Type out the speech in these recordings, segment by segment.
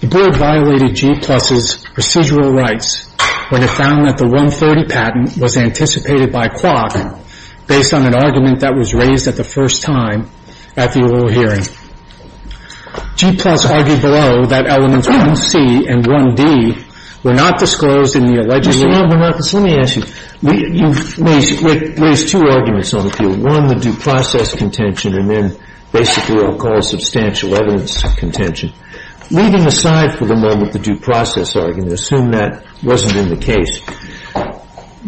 The Board violated G+, procedural rights when it found that the 130 patent was anticipated by Quok based on an argument that was raised at the first time at the oral hearing. G+, argued below, that elements 1c and 1d were not disclosed in the alleged... Mr. Lamberthus, let me ask you. You've raised two arguments on the field. One, the due process contention, and then basically what we'll call substantial evidence contention. Leaving aside for the moment the due process argument, assume that wasn't in the case,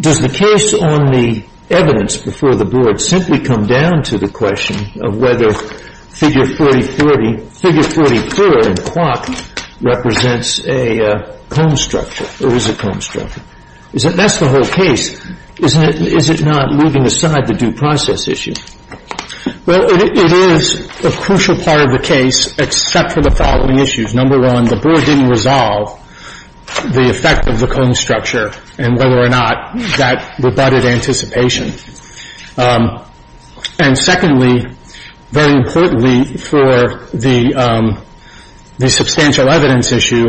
Does the case on the evidence before the Board simply come down to the question of whether figure 40-40, figure 40-4 in Quok represents a comb structure, or is a comb structure? That's the whole case, isn't it? Is it not leaving aside the due process issue? Well, it is a crucial part of the case, except for the following issues. Number one, the Board didn't resolve the effect of the comb structure, and whether or not that rebutted anticipation. And secondly, very importantly for the substantial evidence issue,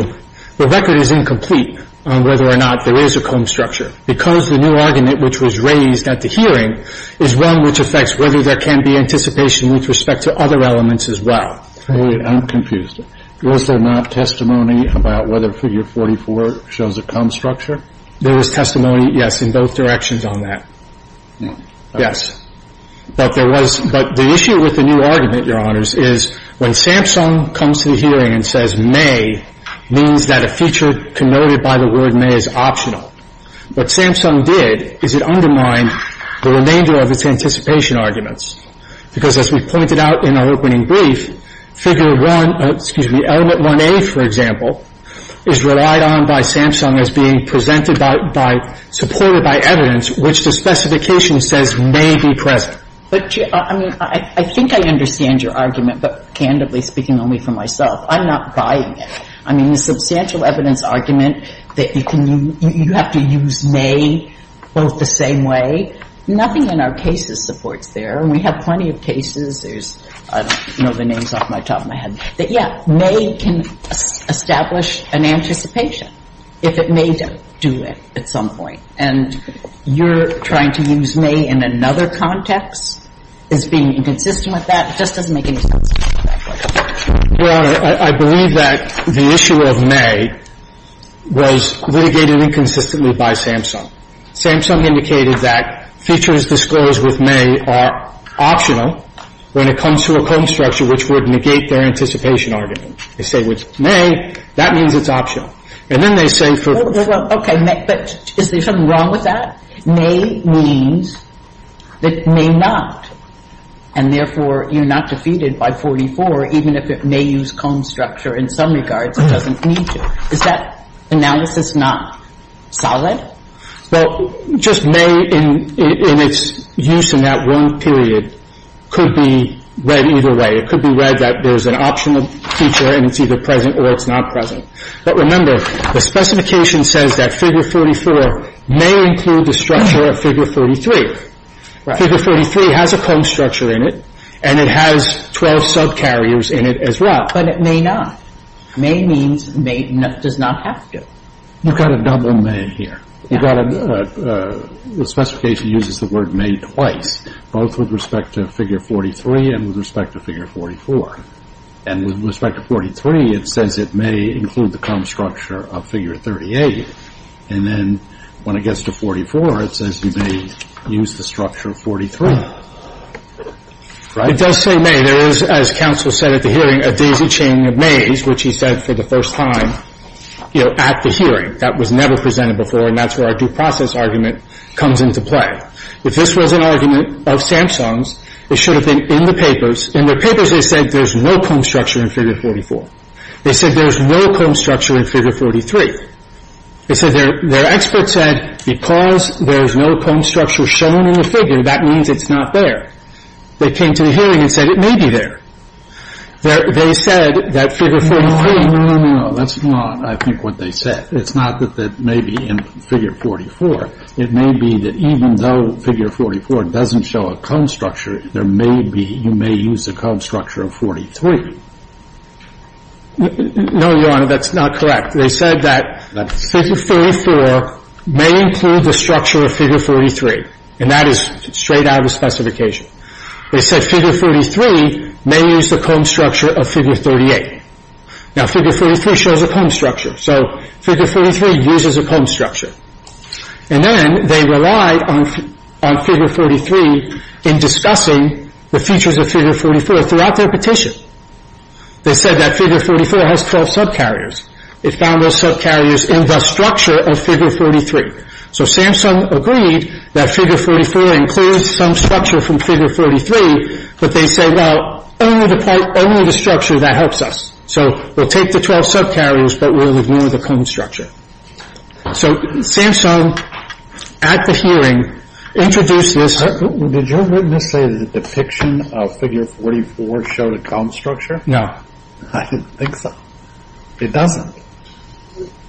the record is incomplete on whether or not there is a comb structure, because the new argument which was raised at the hearing is one which affects whether there can be anticipation with respect to other elements as well. I'm confused. Was there not testimony about whether figure 44 shows a comb structure? There was testimony, yes, in both directions on that. No. Yes. But there was – but the issue with the new argument, Your Honors, is when Samsung comes to the hearing and says may, means that a feature connoted by the word may is optional. What Samsung did is it undermined the remainder of its anticipation arguments, because as we pointed out in our opening brief, figure 1 – excuse me, element 1A, for example, is relied on by Samsung as being presented by – supported by evidence which the specification says may be present. But, I mean, I think I understand your argument, but candidly speaking only for myself, I'm not buying it. I mean, the substantial evidence argument that you can – you have to use may both the same way. Nothing in our cases supports there. And we have plenty of cases. There's – I don't know the names off the top of my head. But, yeah, may can establish an anticipation if it may do it at some point. And you're trying to use may in another context as being inconsistent with that. It just doesn't make any sense. Your Honor, I believe that the issue of may was litigated inconsistently by Samsung. Samsung indicated that features disclosed with may are optional when it comes to a comb structure which would negate their anticipation argument. They say with may, that means it's optional. And then they say for – Well, okay, but is there something wrong with that? May means that may not, and therefore you're not defeated by 44 even if it may use comb structure in some regards. It doesn't need to. Is that analysis not solid? Well, just may in its use in that one period could be read either way. It could be read that there's an optional feature and it's either present or it's not present. But remember, the specification says that figure 44 may include the structure of figure 33. Figure 33 has a comb structure in it, and it has 12 subcarriers in it as well. But it may not. May means may does not have to. You've got a double may here. You've got a – the specification uses the word may twice, both with respect to figure 43 and with respect to figure 44. And with respect to 43, it says it may include the comb structure of figure 38. And then when it gets to 44, it says you may use the structure of 43. Right? It does say may. There is, as counsel said at the hearing, a daisy chain of mays, which he said for the first time at the hearing. That was never presented before, and that's where our due process argument comes into play. If this was an argument of Samsung's, it should have been in the papers. In their papers, they said there's no comb structure in figure 44. They said there's no comb structure in figure 43. They said their experts said because there's no comb structure shown in the figure, that means it's not there. They came to the hearing and said it may be there. They said that figure 43 – No, no, no. That's not, I think, what they said. It's not that that may be in figure 44. It may be that even though figure 44 doesn't show a comb structure, there may be – you may use the comb structure of 43. No, Your Honor, that's not correct. They said that figure 44 may include the structure of figure 43, and that is straight out of the specification. They said figure 43 may use the comb structure of figure 38. Now, figure 43 shows a comb structure, so figure 43 uses a comb structure. And then they relied on figure 43 in discussing the features of figure 44 throughout their petition. They said that figure 44 has 12 subcarriers. It found those subcarriers in the structure of figure 43. So Samsung agreed that figure 44 includes some structure from figure 43, but they said, well, only the structure that helps us. So we'll take the 12 subcarriers, but we'll ignore the comb structure. So Samsung, at the hearing, introduced this – Did your witness say that the depiction of figure 44 showed a comb structure? No. I didn't think so. It doesn't.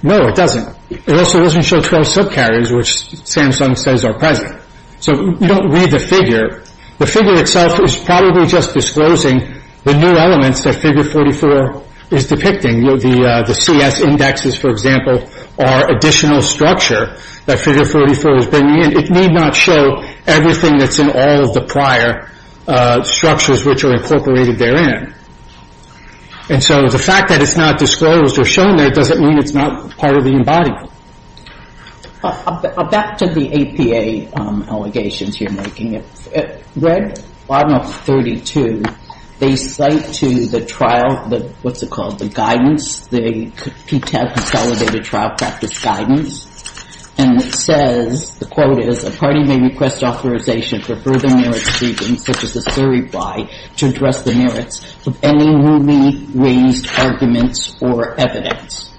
No, it doesn't. It also doesn't show 12 subcarriers, which Samsung says are present. So you don't read the figure. The figure itself is probably just disclosing the new elements that figure 44 is depicting. The CS indexes, for example, are additional structure that figure 44 is bringing in. It need not show everything that's in all of the prior structures which are incorporated therein. And so the fact that it's not disclosed or shown there doesn't mean it's not part of the embodiment. Back to the APA allegations you're making. At Red Law No. 32, they cite to the trial the – what's it called? The guidance, the PTAB consolidated trial practice guidance. And it says – the quote is, the party may request authorization for further merit-seeking, such as a certify, to address the merits of any newly raised arguments or evidence.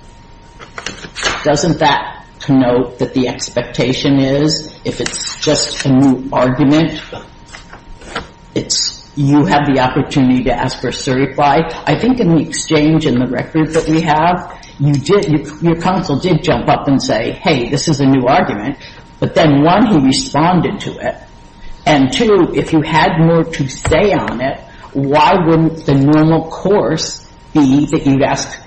Doesn't that connote that the expectation is if it's just a new argument, you have the opportunity to ask for a certify? I think in the exchange in the record that we have, your counsel did jump up and say, hey, this is a new argument. But then, one, he responded to it. And, two, if you had more to say on it, why wouldn't the normal course be that you'd ask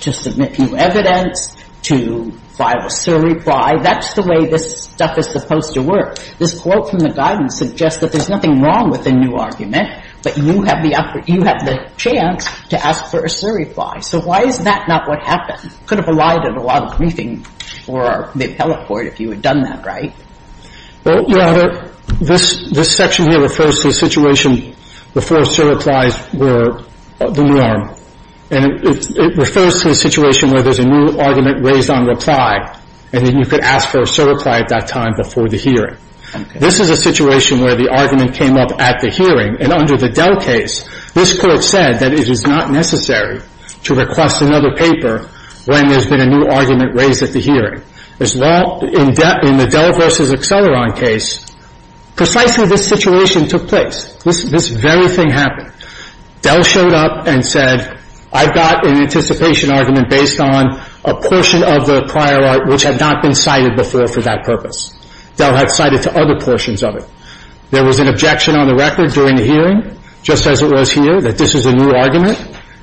to submit new evidence, to file a certify? That's the way this stuff is supposed to work. This quote from the guidance suggests that there's nothing wrong with a new argument, but you have the chance to ask for a certify. So why is that not what happened? It could have allotted a lot of briefing for the appellate court if you had done that right. Well, Your Honor, this section here refers to a situation before certifies were the norm. And it refers to a situation where there's a new argument raised on reply, and then you could ask for a certify at that time before the hearing. This is a situation where the argument came up at the hearing. And under the Dell case, this court said that it is not necessary to request another paper when there's been a new argument raised at the hearing. In the Dell v. Acceleron case, precisely this situation took place. This very thing happened. Dell showed up and said, I've got an anticipation argument based on a portion of the prior art which had not been cited before for that purpose. Dell had cited to other portions of it. There was an objection on the record during the hearing, just as it was here, that this is a new argument.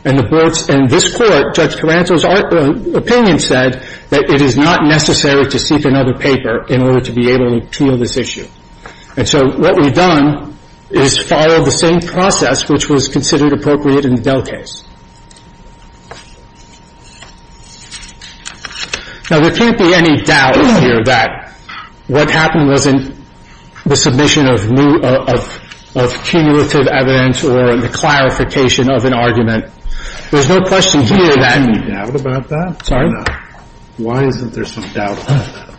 And this court, Judge Carranzo's opinion said that it is not necessary to seek another paper in order to be able to appeal this issue. And so what we've done is follow the same process which was considered appropriate in the Dell case. Now, there can't be any doubt here that what happened wasn't the submission of new, of cumulative evidence or the clarification of an argument. There's no question here that... Why isn't there some doubt about that?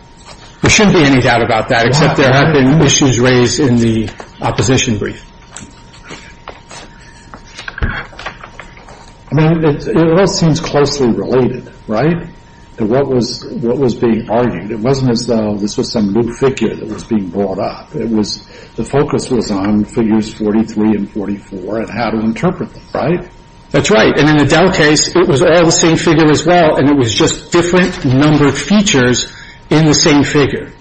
There shouldn't be any doubt about that, except there have been issues raised in the opposition brief. I mean, it all seems closely related, right, to what was being argued. It wasn't as though this was some new figure that was being brought up. The focus was on figures 43 and 44 and how to interpret them, right? That's right. And in the Dell case, it was all the same figure as well, and it was just different numbered features in the same figure.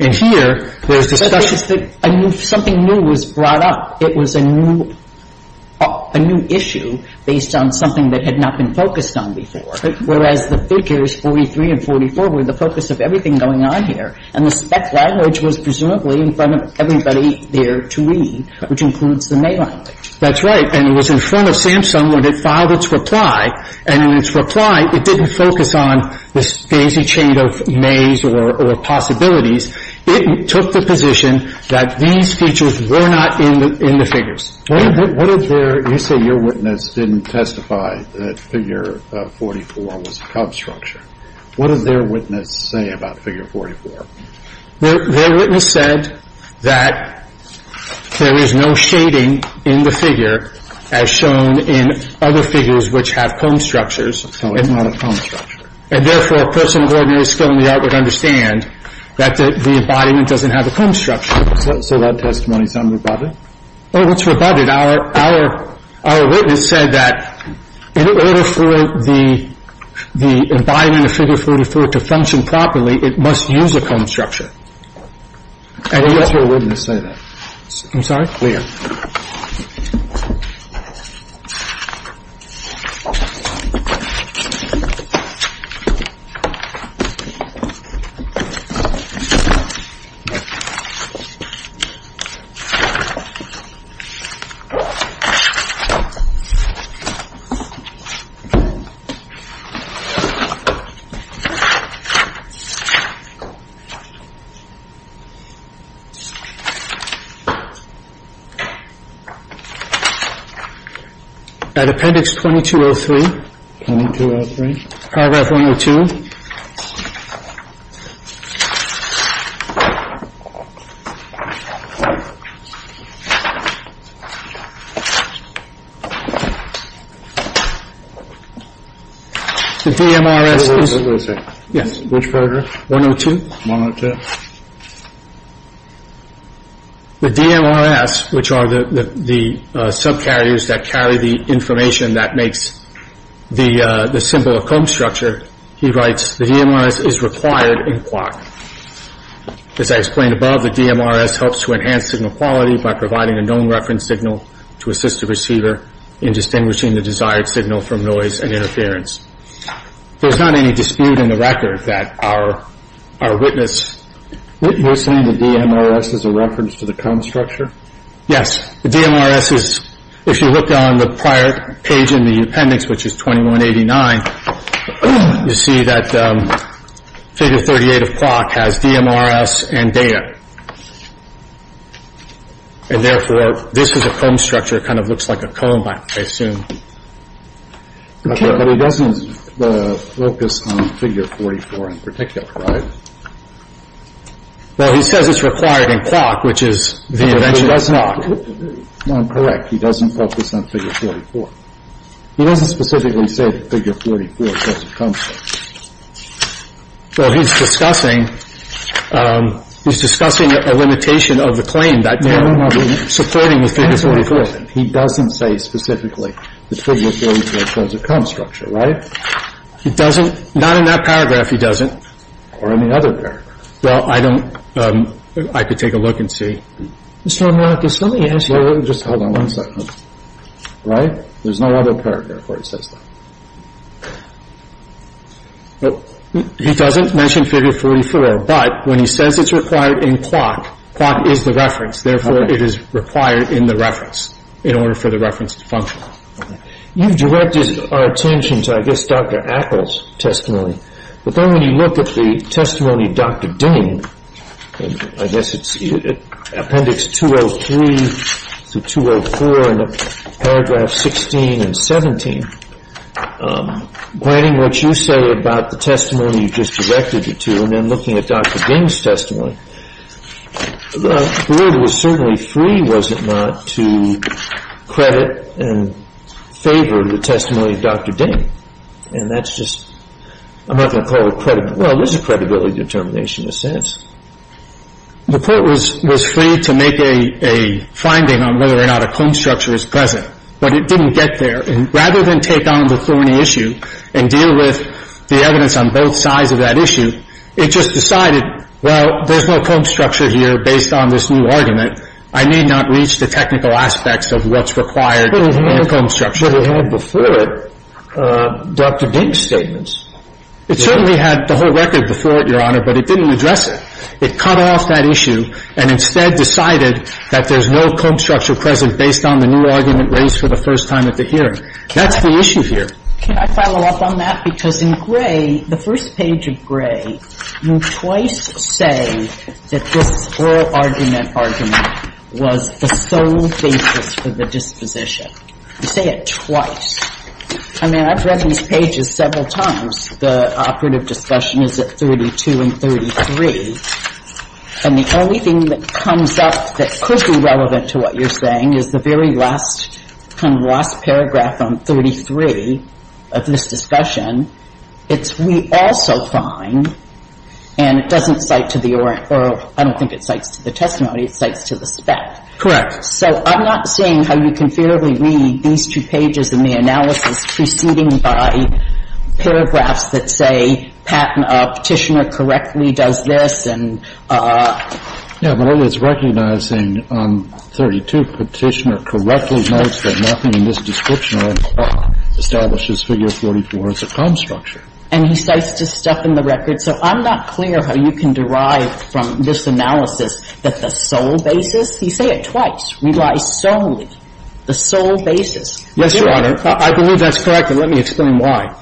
And here, there's discussion... I think it's that something new was brought up. It was a new issue based on something that had not been focused on before, whereas the figures 43 and 44 were the focus of everything going on here. And the spec language was presumably in front of everybody there to read, which includes the May language. That's right. And it was in front of Samsung when it filed its reply. And in its reply, it didn't focus on this daisy chain of Mays or possibilities. It took the position that these features were not in the figures. What did their... You say your witness didn't testify that figure 44 was a Cobb structure. What did their witness say about figure 44? Their witness said that there is no shading in the figure, as shown in other figures which have comb structures. No, it's not a comb structure. And therefore, a person with ordinary skill in the art would understand that the embodiment doesn't have a comb structure. So that testimony is unrebutted? Oh, it's rebutted. Our witness said that in order for the embodiment of figure 44 to function properly, it must use a comb structure. And what's your witness say to that? I'm sorry? At appendix 2203. 2203. Paragraph 102. The DMRS is... Wait a second. Yes. Which paragraph? 102. 102. The DMRS, which are the subcarriers that carry the information that makes the symbol a comb structure, he writes, the DMRS is required in clock. As I explained above, the DMRS helps to enhance signal quality by providing a known reference signal to assist the receiver in distinguishing the desired signal from noise and interference. There's not any dispute in the record that our witness... You're saying the DMRS is a reference to the comb structure? Yes. The DMRS is, if you look on the prior page in the appendix, which is 2189, you see that figure 38 of clock has DMRS and data. And therefore, this is a comb structure. It kind of looks like a comb, I assume. But it doesn't focus on figure 44 in particular, right? Well, he says it's required in clock, which is the eventual clock. No, I'm correct. He doesn't focus on figure 44. He doesn't specifically say figure 44 is a comb structure. Well, he's discussing a limitation of the claim that DMRS is supporting the figure 44. He doesn't say specifically that figure 44 is a comb structure, right? He doesn't? Not in that paragraph, he doesn't. Or any other paragraph. Well, I don't. I could take a look and see. Mr. Amorakis, let me ask you, just hold on one second. Right? There's no other paragraph where he says that. He doesn't mention figure 44. But when he says it's required in clock, clock is the reference. Therefore, it is required in the reference in order for the reference to function. You've directed our attention to, I guess, Dr. Appel's testimony. But then when you look at the testimony of Dr. Ding, I guess it's Appendix 203 to 204 in paragraphs 16 and 17, planning what you say about the testimony you just directed it to, and then looking at Dr. Ding's testimony, the word was certainly free, was it not, to credit and favor the testimony of Dr. Ding. And that's just, I'm not going to call it credibility. Well, it was a credibility determination in a sense. The court was free to make a finding on whether or not a comb structure is present. But it didn't get there. And rather than take on the thorny issue and deal with the evidence on both sides of that issue, it just decided, well, there's no comb structure here based on this new argument. I need not reach the technical aspects of what's required in a comb structure. And it certainly had before it Dr. Ding's statements. It certainly had the whole record before it, Your Honor, but it didn't address it. It cut off that issue and instead decided that there's no comb structure present based on the new argument raised for the first time at the hearing. That's the issue here. Can I follow up on that? Because in Gray, the first page of Gray, you twice say that this oral argument argument was the sole basis for the disposition. You say it twice. I mean, I've read these pages several times. The operative discussion is at 32 and 33. And the only thing that comes up that could be relevant to what you're saying is the very last kind of last paragraph on 33 of this discussion. It's, we also find, and it doesn't cite to the oral. I don't think it cites to the testimony. It cites to the spec. Correct. So I'm not seeing how you can fairly read these two pages in the analysis preceding by paragraphs that say Patten, Petitioner correctly does this and... Yeah, but it's recognizing 32, Petitioner correctly notes that nothing in this description or in the clock establishes figure 44 as a comb structure. And he cites to stuff in the record. So I'm not clear how you can derive from this analysis that the sole basis. You say it twice. We lie solely. The sole basis. Yes, Your Honor. I believe that's correct, and let me explain why.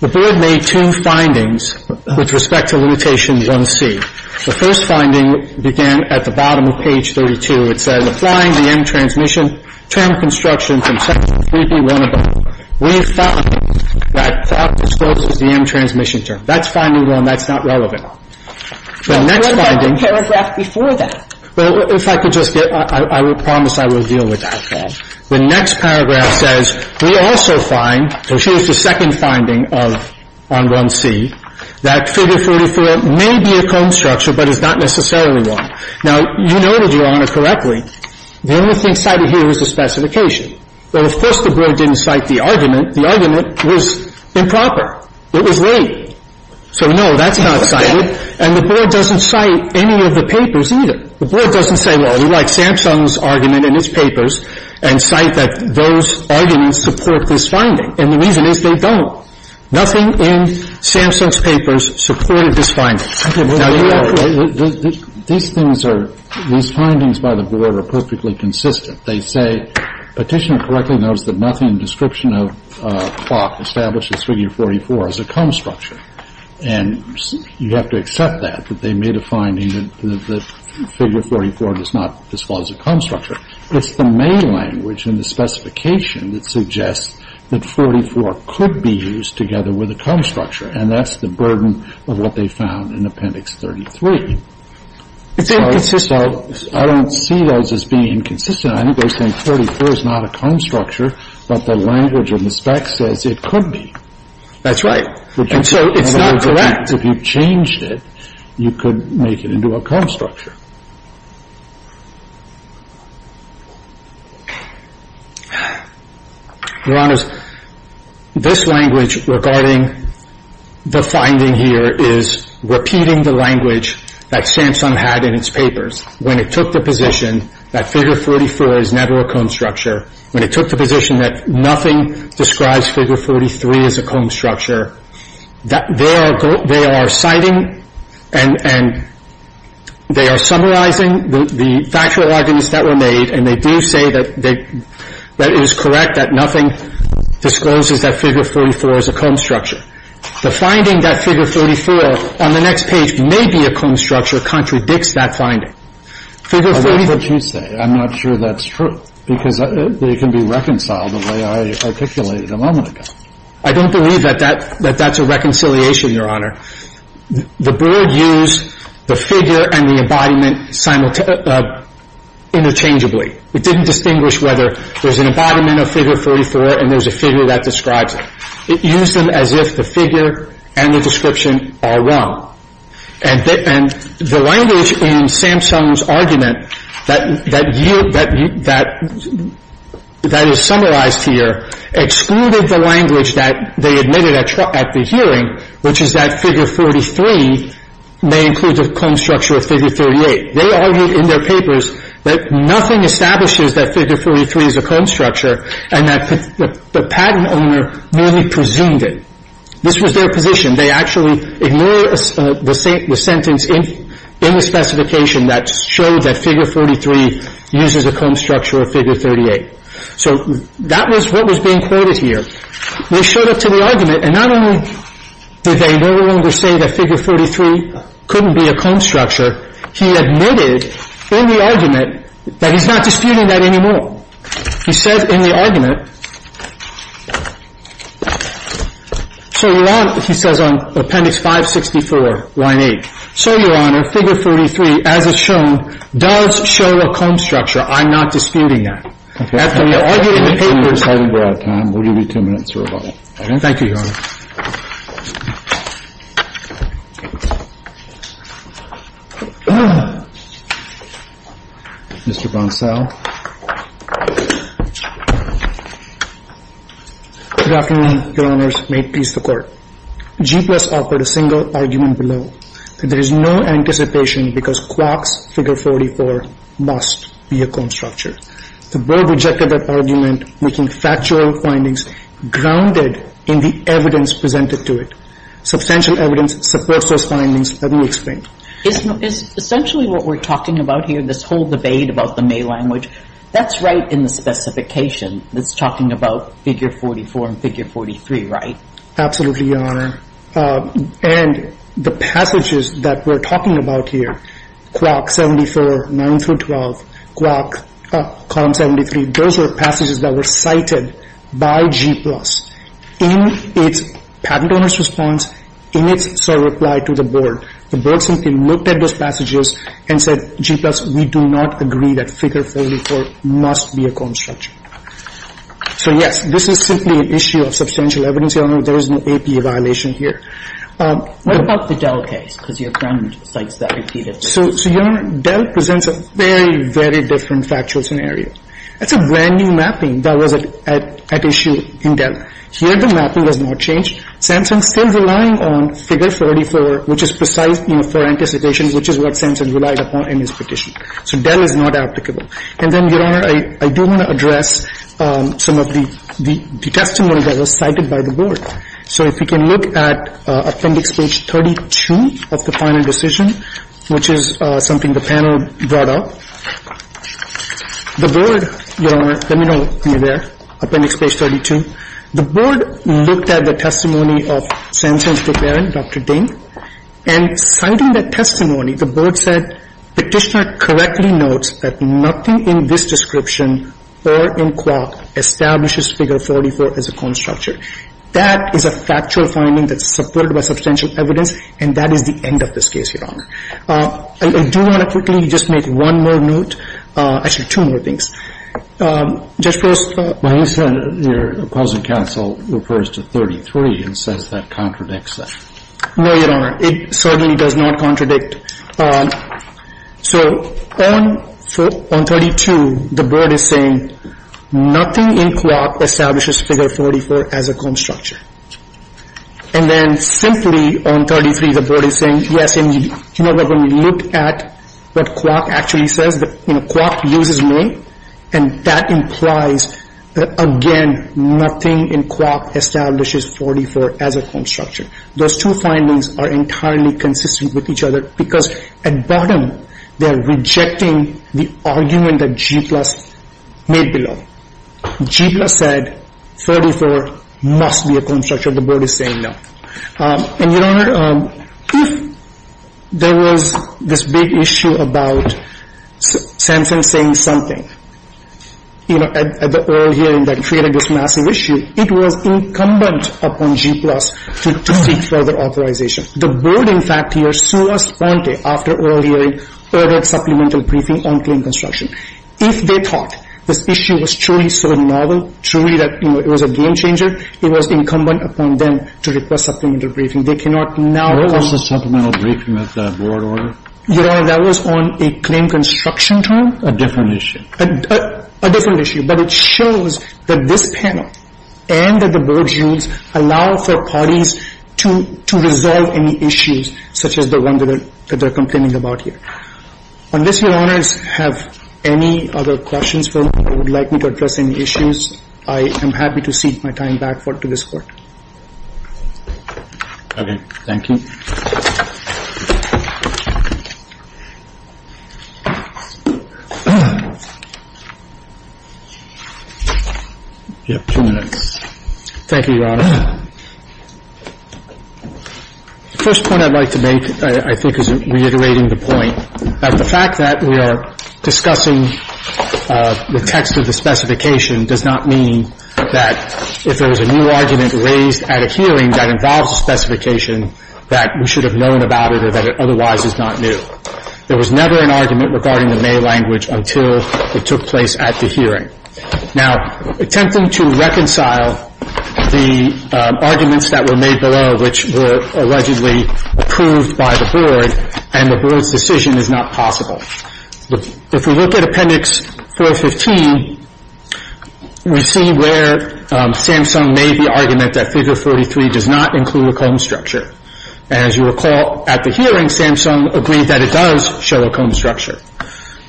The Board made two findings with respect to limitation 1C. The first finding began at the bottom of page 32. It says, applying the end transmission term construction from section 3B1 above, we find that... as close as the end transmission term. That's finding one that's not relevant. The next finding... What about the paragraph before that? Well, if I could just get... I promise I will deal with that. The next paragraph says, we also find... So here's the second finding of... on 1C, that figure 44 may be a comb structure, but is not necessarily one. Now, you noted, Your Honor, correctly, the only thing cited here is the specification. Well, of course, the Board didn't cite the argument. The argument was improper. It was late. So, no, that's not cited. And the Board doesn't cite any of the papers either. The Board doesn't say, well, we like Samsung's argument in its papers, and cite that those arguments support this finding. And the reason is they don't. Nothing in Samsung's papers supported this finding. Now, Your Honor, these things are, these findings by the Board are perfectly consistent. They say, Petitioner correctly notes that nothing in the description of clock establishes figure 44 as a comb structure. And you have to accept that, that they made a finding that figure 44 does not disclose a comb structure. It's the main language in the specification that suggests that 44 could be used together with a comb structure. And that's the burden of what they found in Appendix 33. So I don't see those as being inconsistent. I think they're saying 44 is not a comb structure, but the language in the specs says it could be. That's right. And so it's not correct. If you changed it, you could make it into a comb structure. Your Honors, this language regarding the finding here is repeating the language that Samsung had in its papers. When it took the position that figure 44 is never a comb structure, when it took the position that nothing describes figure 43 as a comb structure, they are citing and they are summarizing the factual arguments that were made, and they do say that it is correct that nothing discloses that figure 44 is a comb structure. The finding that figure 44 on the next page may be a comb structure contradicts that finding. That's what you say. I'm not sure that's true because they can be reconciled the way I articulated a moment ago. I don't believe that that's a reconciliation, Your Honor. The board used the figure and the embodiment interchangeably. It didn't distinguish whether there's an embodiment of figure 44 and there's a figure that describes it. It used them as if the figure and the description are wrong. And the language in Samsung's argument that is summarized here excluded the language that they admitted at the hearing, which is that figure 43 may include the comb structure of figure 38. They argued in their papers that nothing establishes that figure 43 is a comb structure and that the patent owner merely presumed it. This was their position. They actually ignored the sentence in the specification that showed that figure 43 uses a comb structure of figure 38. So that was what was being quoted here. They showed it to the argument, and not only did they no longer say that figure 43 couldn't be a comb structure, he admitted in the argument that he's not disputing that anymore. He says in the argument, so he says on Appendix 564, line 8, so, Your Honor, figure 43, as it's shown, does show a comb structure. I'm not disputing that. After we argued in the papers. We're out of time. We'll give you two minutes, Your Honor. Thank you, Your Honor. Mr. Bonsal. Good afternoon, Your Honors. May it please the Court. G-Plus offered a single argument below, that there is no anticipation because Quach's figure 44 must be a comb structure. The Board rejected that argument, making factual findings grounded in the evidence presented to it. Substantial evidence supports those findings. Let me explain. Essentially what we're talking about here, this whole debate about the May language, that's right in the specification. It's talking about figure 44 and figure 43, right? Absolutely, Your Honor. And the passages that we're talking about here, Quach 74, 9 through 12, Quach column 73, those are passages that were cited by G-Plus in its patent owner's response, in its reply to the Board. The Board simply looked at those passages and said, G-Plus, we do not agree that figure 44 must be a comb structure. So, yes, this is simply an issue of substantial evidence, Your Honor. There is no APA violation here. What about the Dell case? Because your friend cites that repeatedly. So, Your Honor, Dell presents a very, very different factual scenario. It's a brand-new mapping that was at issue in Dell. Here the mapping has not changed. Samson's still relying on figure 44, which is precise, you know, for anticipation, which is what Samson relied upon in his petition. So Dell is not applicable. And then, Your Honor, I do want to address some of the testimony that was cited by the Board. So if we can look at Appendix Page 32 of the final decision, which is something the panel brought up. The Board, Your Honor, let me know when you're there, Appendix Page 32. The Board looked at the testimony of Samson's declarant, Dr. Ding, and citing that testimony, the Board said, Petitioner correctly notes that nothing in this description or in Qua establishes figure 44 as a constructure. That is a factual finding that's supported by substantial evidence, and that is the end of this case, Your Honor. I do want to quickly just make one more note. Actually, two more things. Judge, first. Well, you said your opposing counsel refers to 33 and says that contradicts that. No, Your Honor. It certainly does not contradict. So on 32, the Board is saying nothing in Qua establishes figure 44 as a constructure. And then simply on 33, the Board is saying yes, and you know that when you look at what Qua actually says that Qua uses me, and that implies that, again, nothing in Qua establishes 44 as a constructure. Those two findings are entirely consistent with each other because at bottom they are rejecting the argument that G-plus made below. G-plus said 44 must be a constructure. The Board is saying no. And, Your Honor, if there was this big issue about Samson saying something, you know, at the oral hearing that created this massive issue, it was incumbent upon G-plus to seek further authorization. The Board, in fact, here, soon as Sponte, after oral hearing, ordered supplemental briefing on claim construction. If they thought this issue was truly so novel, truly that, you know, it was a game changer, it was incumbent upon them to request supplemental briefing. They cannot now. Where was the supplemental briefing at that Board order? Your Honor, that was on a claim construction term. A different issue. A different issue. But it shows that this panel and that the Board's views allow for parties to resolve any issues such as the one that they're complaining about here. Unless Your Honors have any other questions for me or would like me to address any issues, I am happy to cede my time back to this Court. Okay. Thank you. Thank you. You have two minutes. Thank you, Your Honor. The first point I'd like to make, I think, is reiterating the point that the fact that we are discussing the text of the specification does not mean that if there was a new argument raised at a hearing that involves a specification that we should have known about it or that it otherwise is not new. There was never an argument regarding the May language until it took place at the hearing. Now, attempting to reconcile the arguments that were made below, which were allegedly approved by the Board and the Board's decision, is not possible. If we look at Appendix 415, we see where Samsung made the argument that Figure 43 does not include a cone structure. As you recall, at the hearing, Samsung agreed that it does show a cone structure.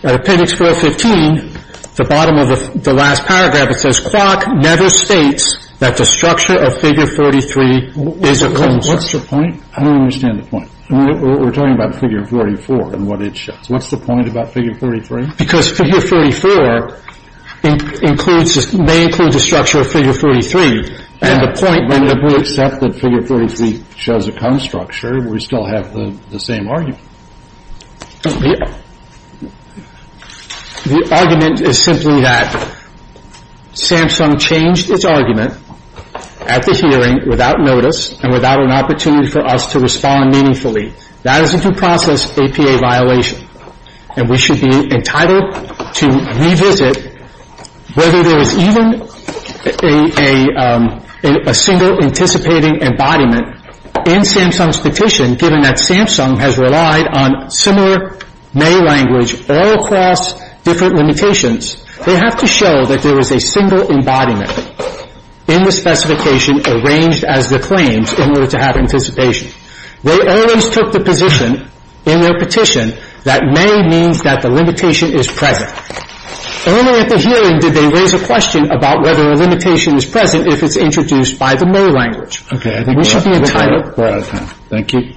At Appendix 415, the bottom of the last paragraph, it says, Quark never states that the structure of Figure 43 is a cone structure. What's the point? I don't understand the point. We're talking about Figure 44 and what it shows. What's the point about Figure 43? Because Figure 44 may include the structure of Figure 43, and the point when we accept that Figure 43 shows a cone structure, we still have the same argument. The argument is simply that Samsung changed its argument at the hearing without notice and without an opportunity for us to respond meaningfully. That is a due process APA violation, and we should be entitled to revisit whether there is even a single anticipating embodiment in Samsung's petition, given that Samsung has relied on similar May language all across different limitations. They have to show that there is a single embodiment in the specification arranged as the claims in order to have anticipation. They always took the position in their petition that May means that the limitation is present. Only at the hearing did they raise a question about whether a limitation is present if it's introduced by the May language. We should be entitled to that. Thank you.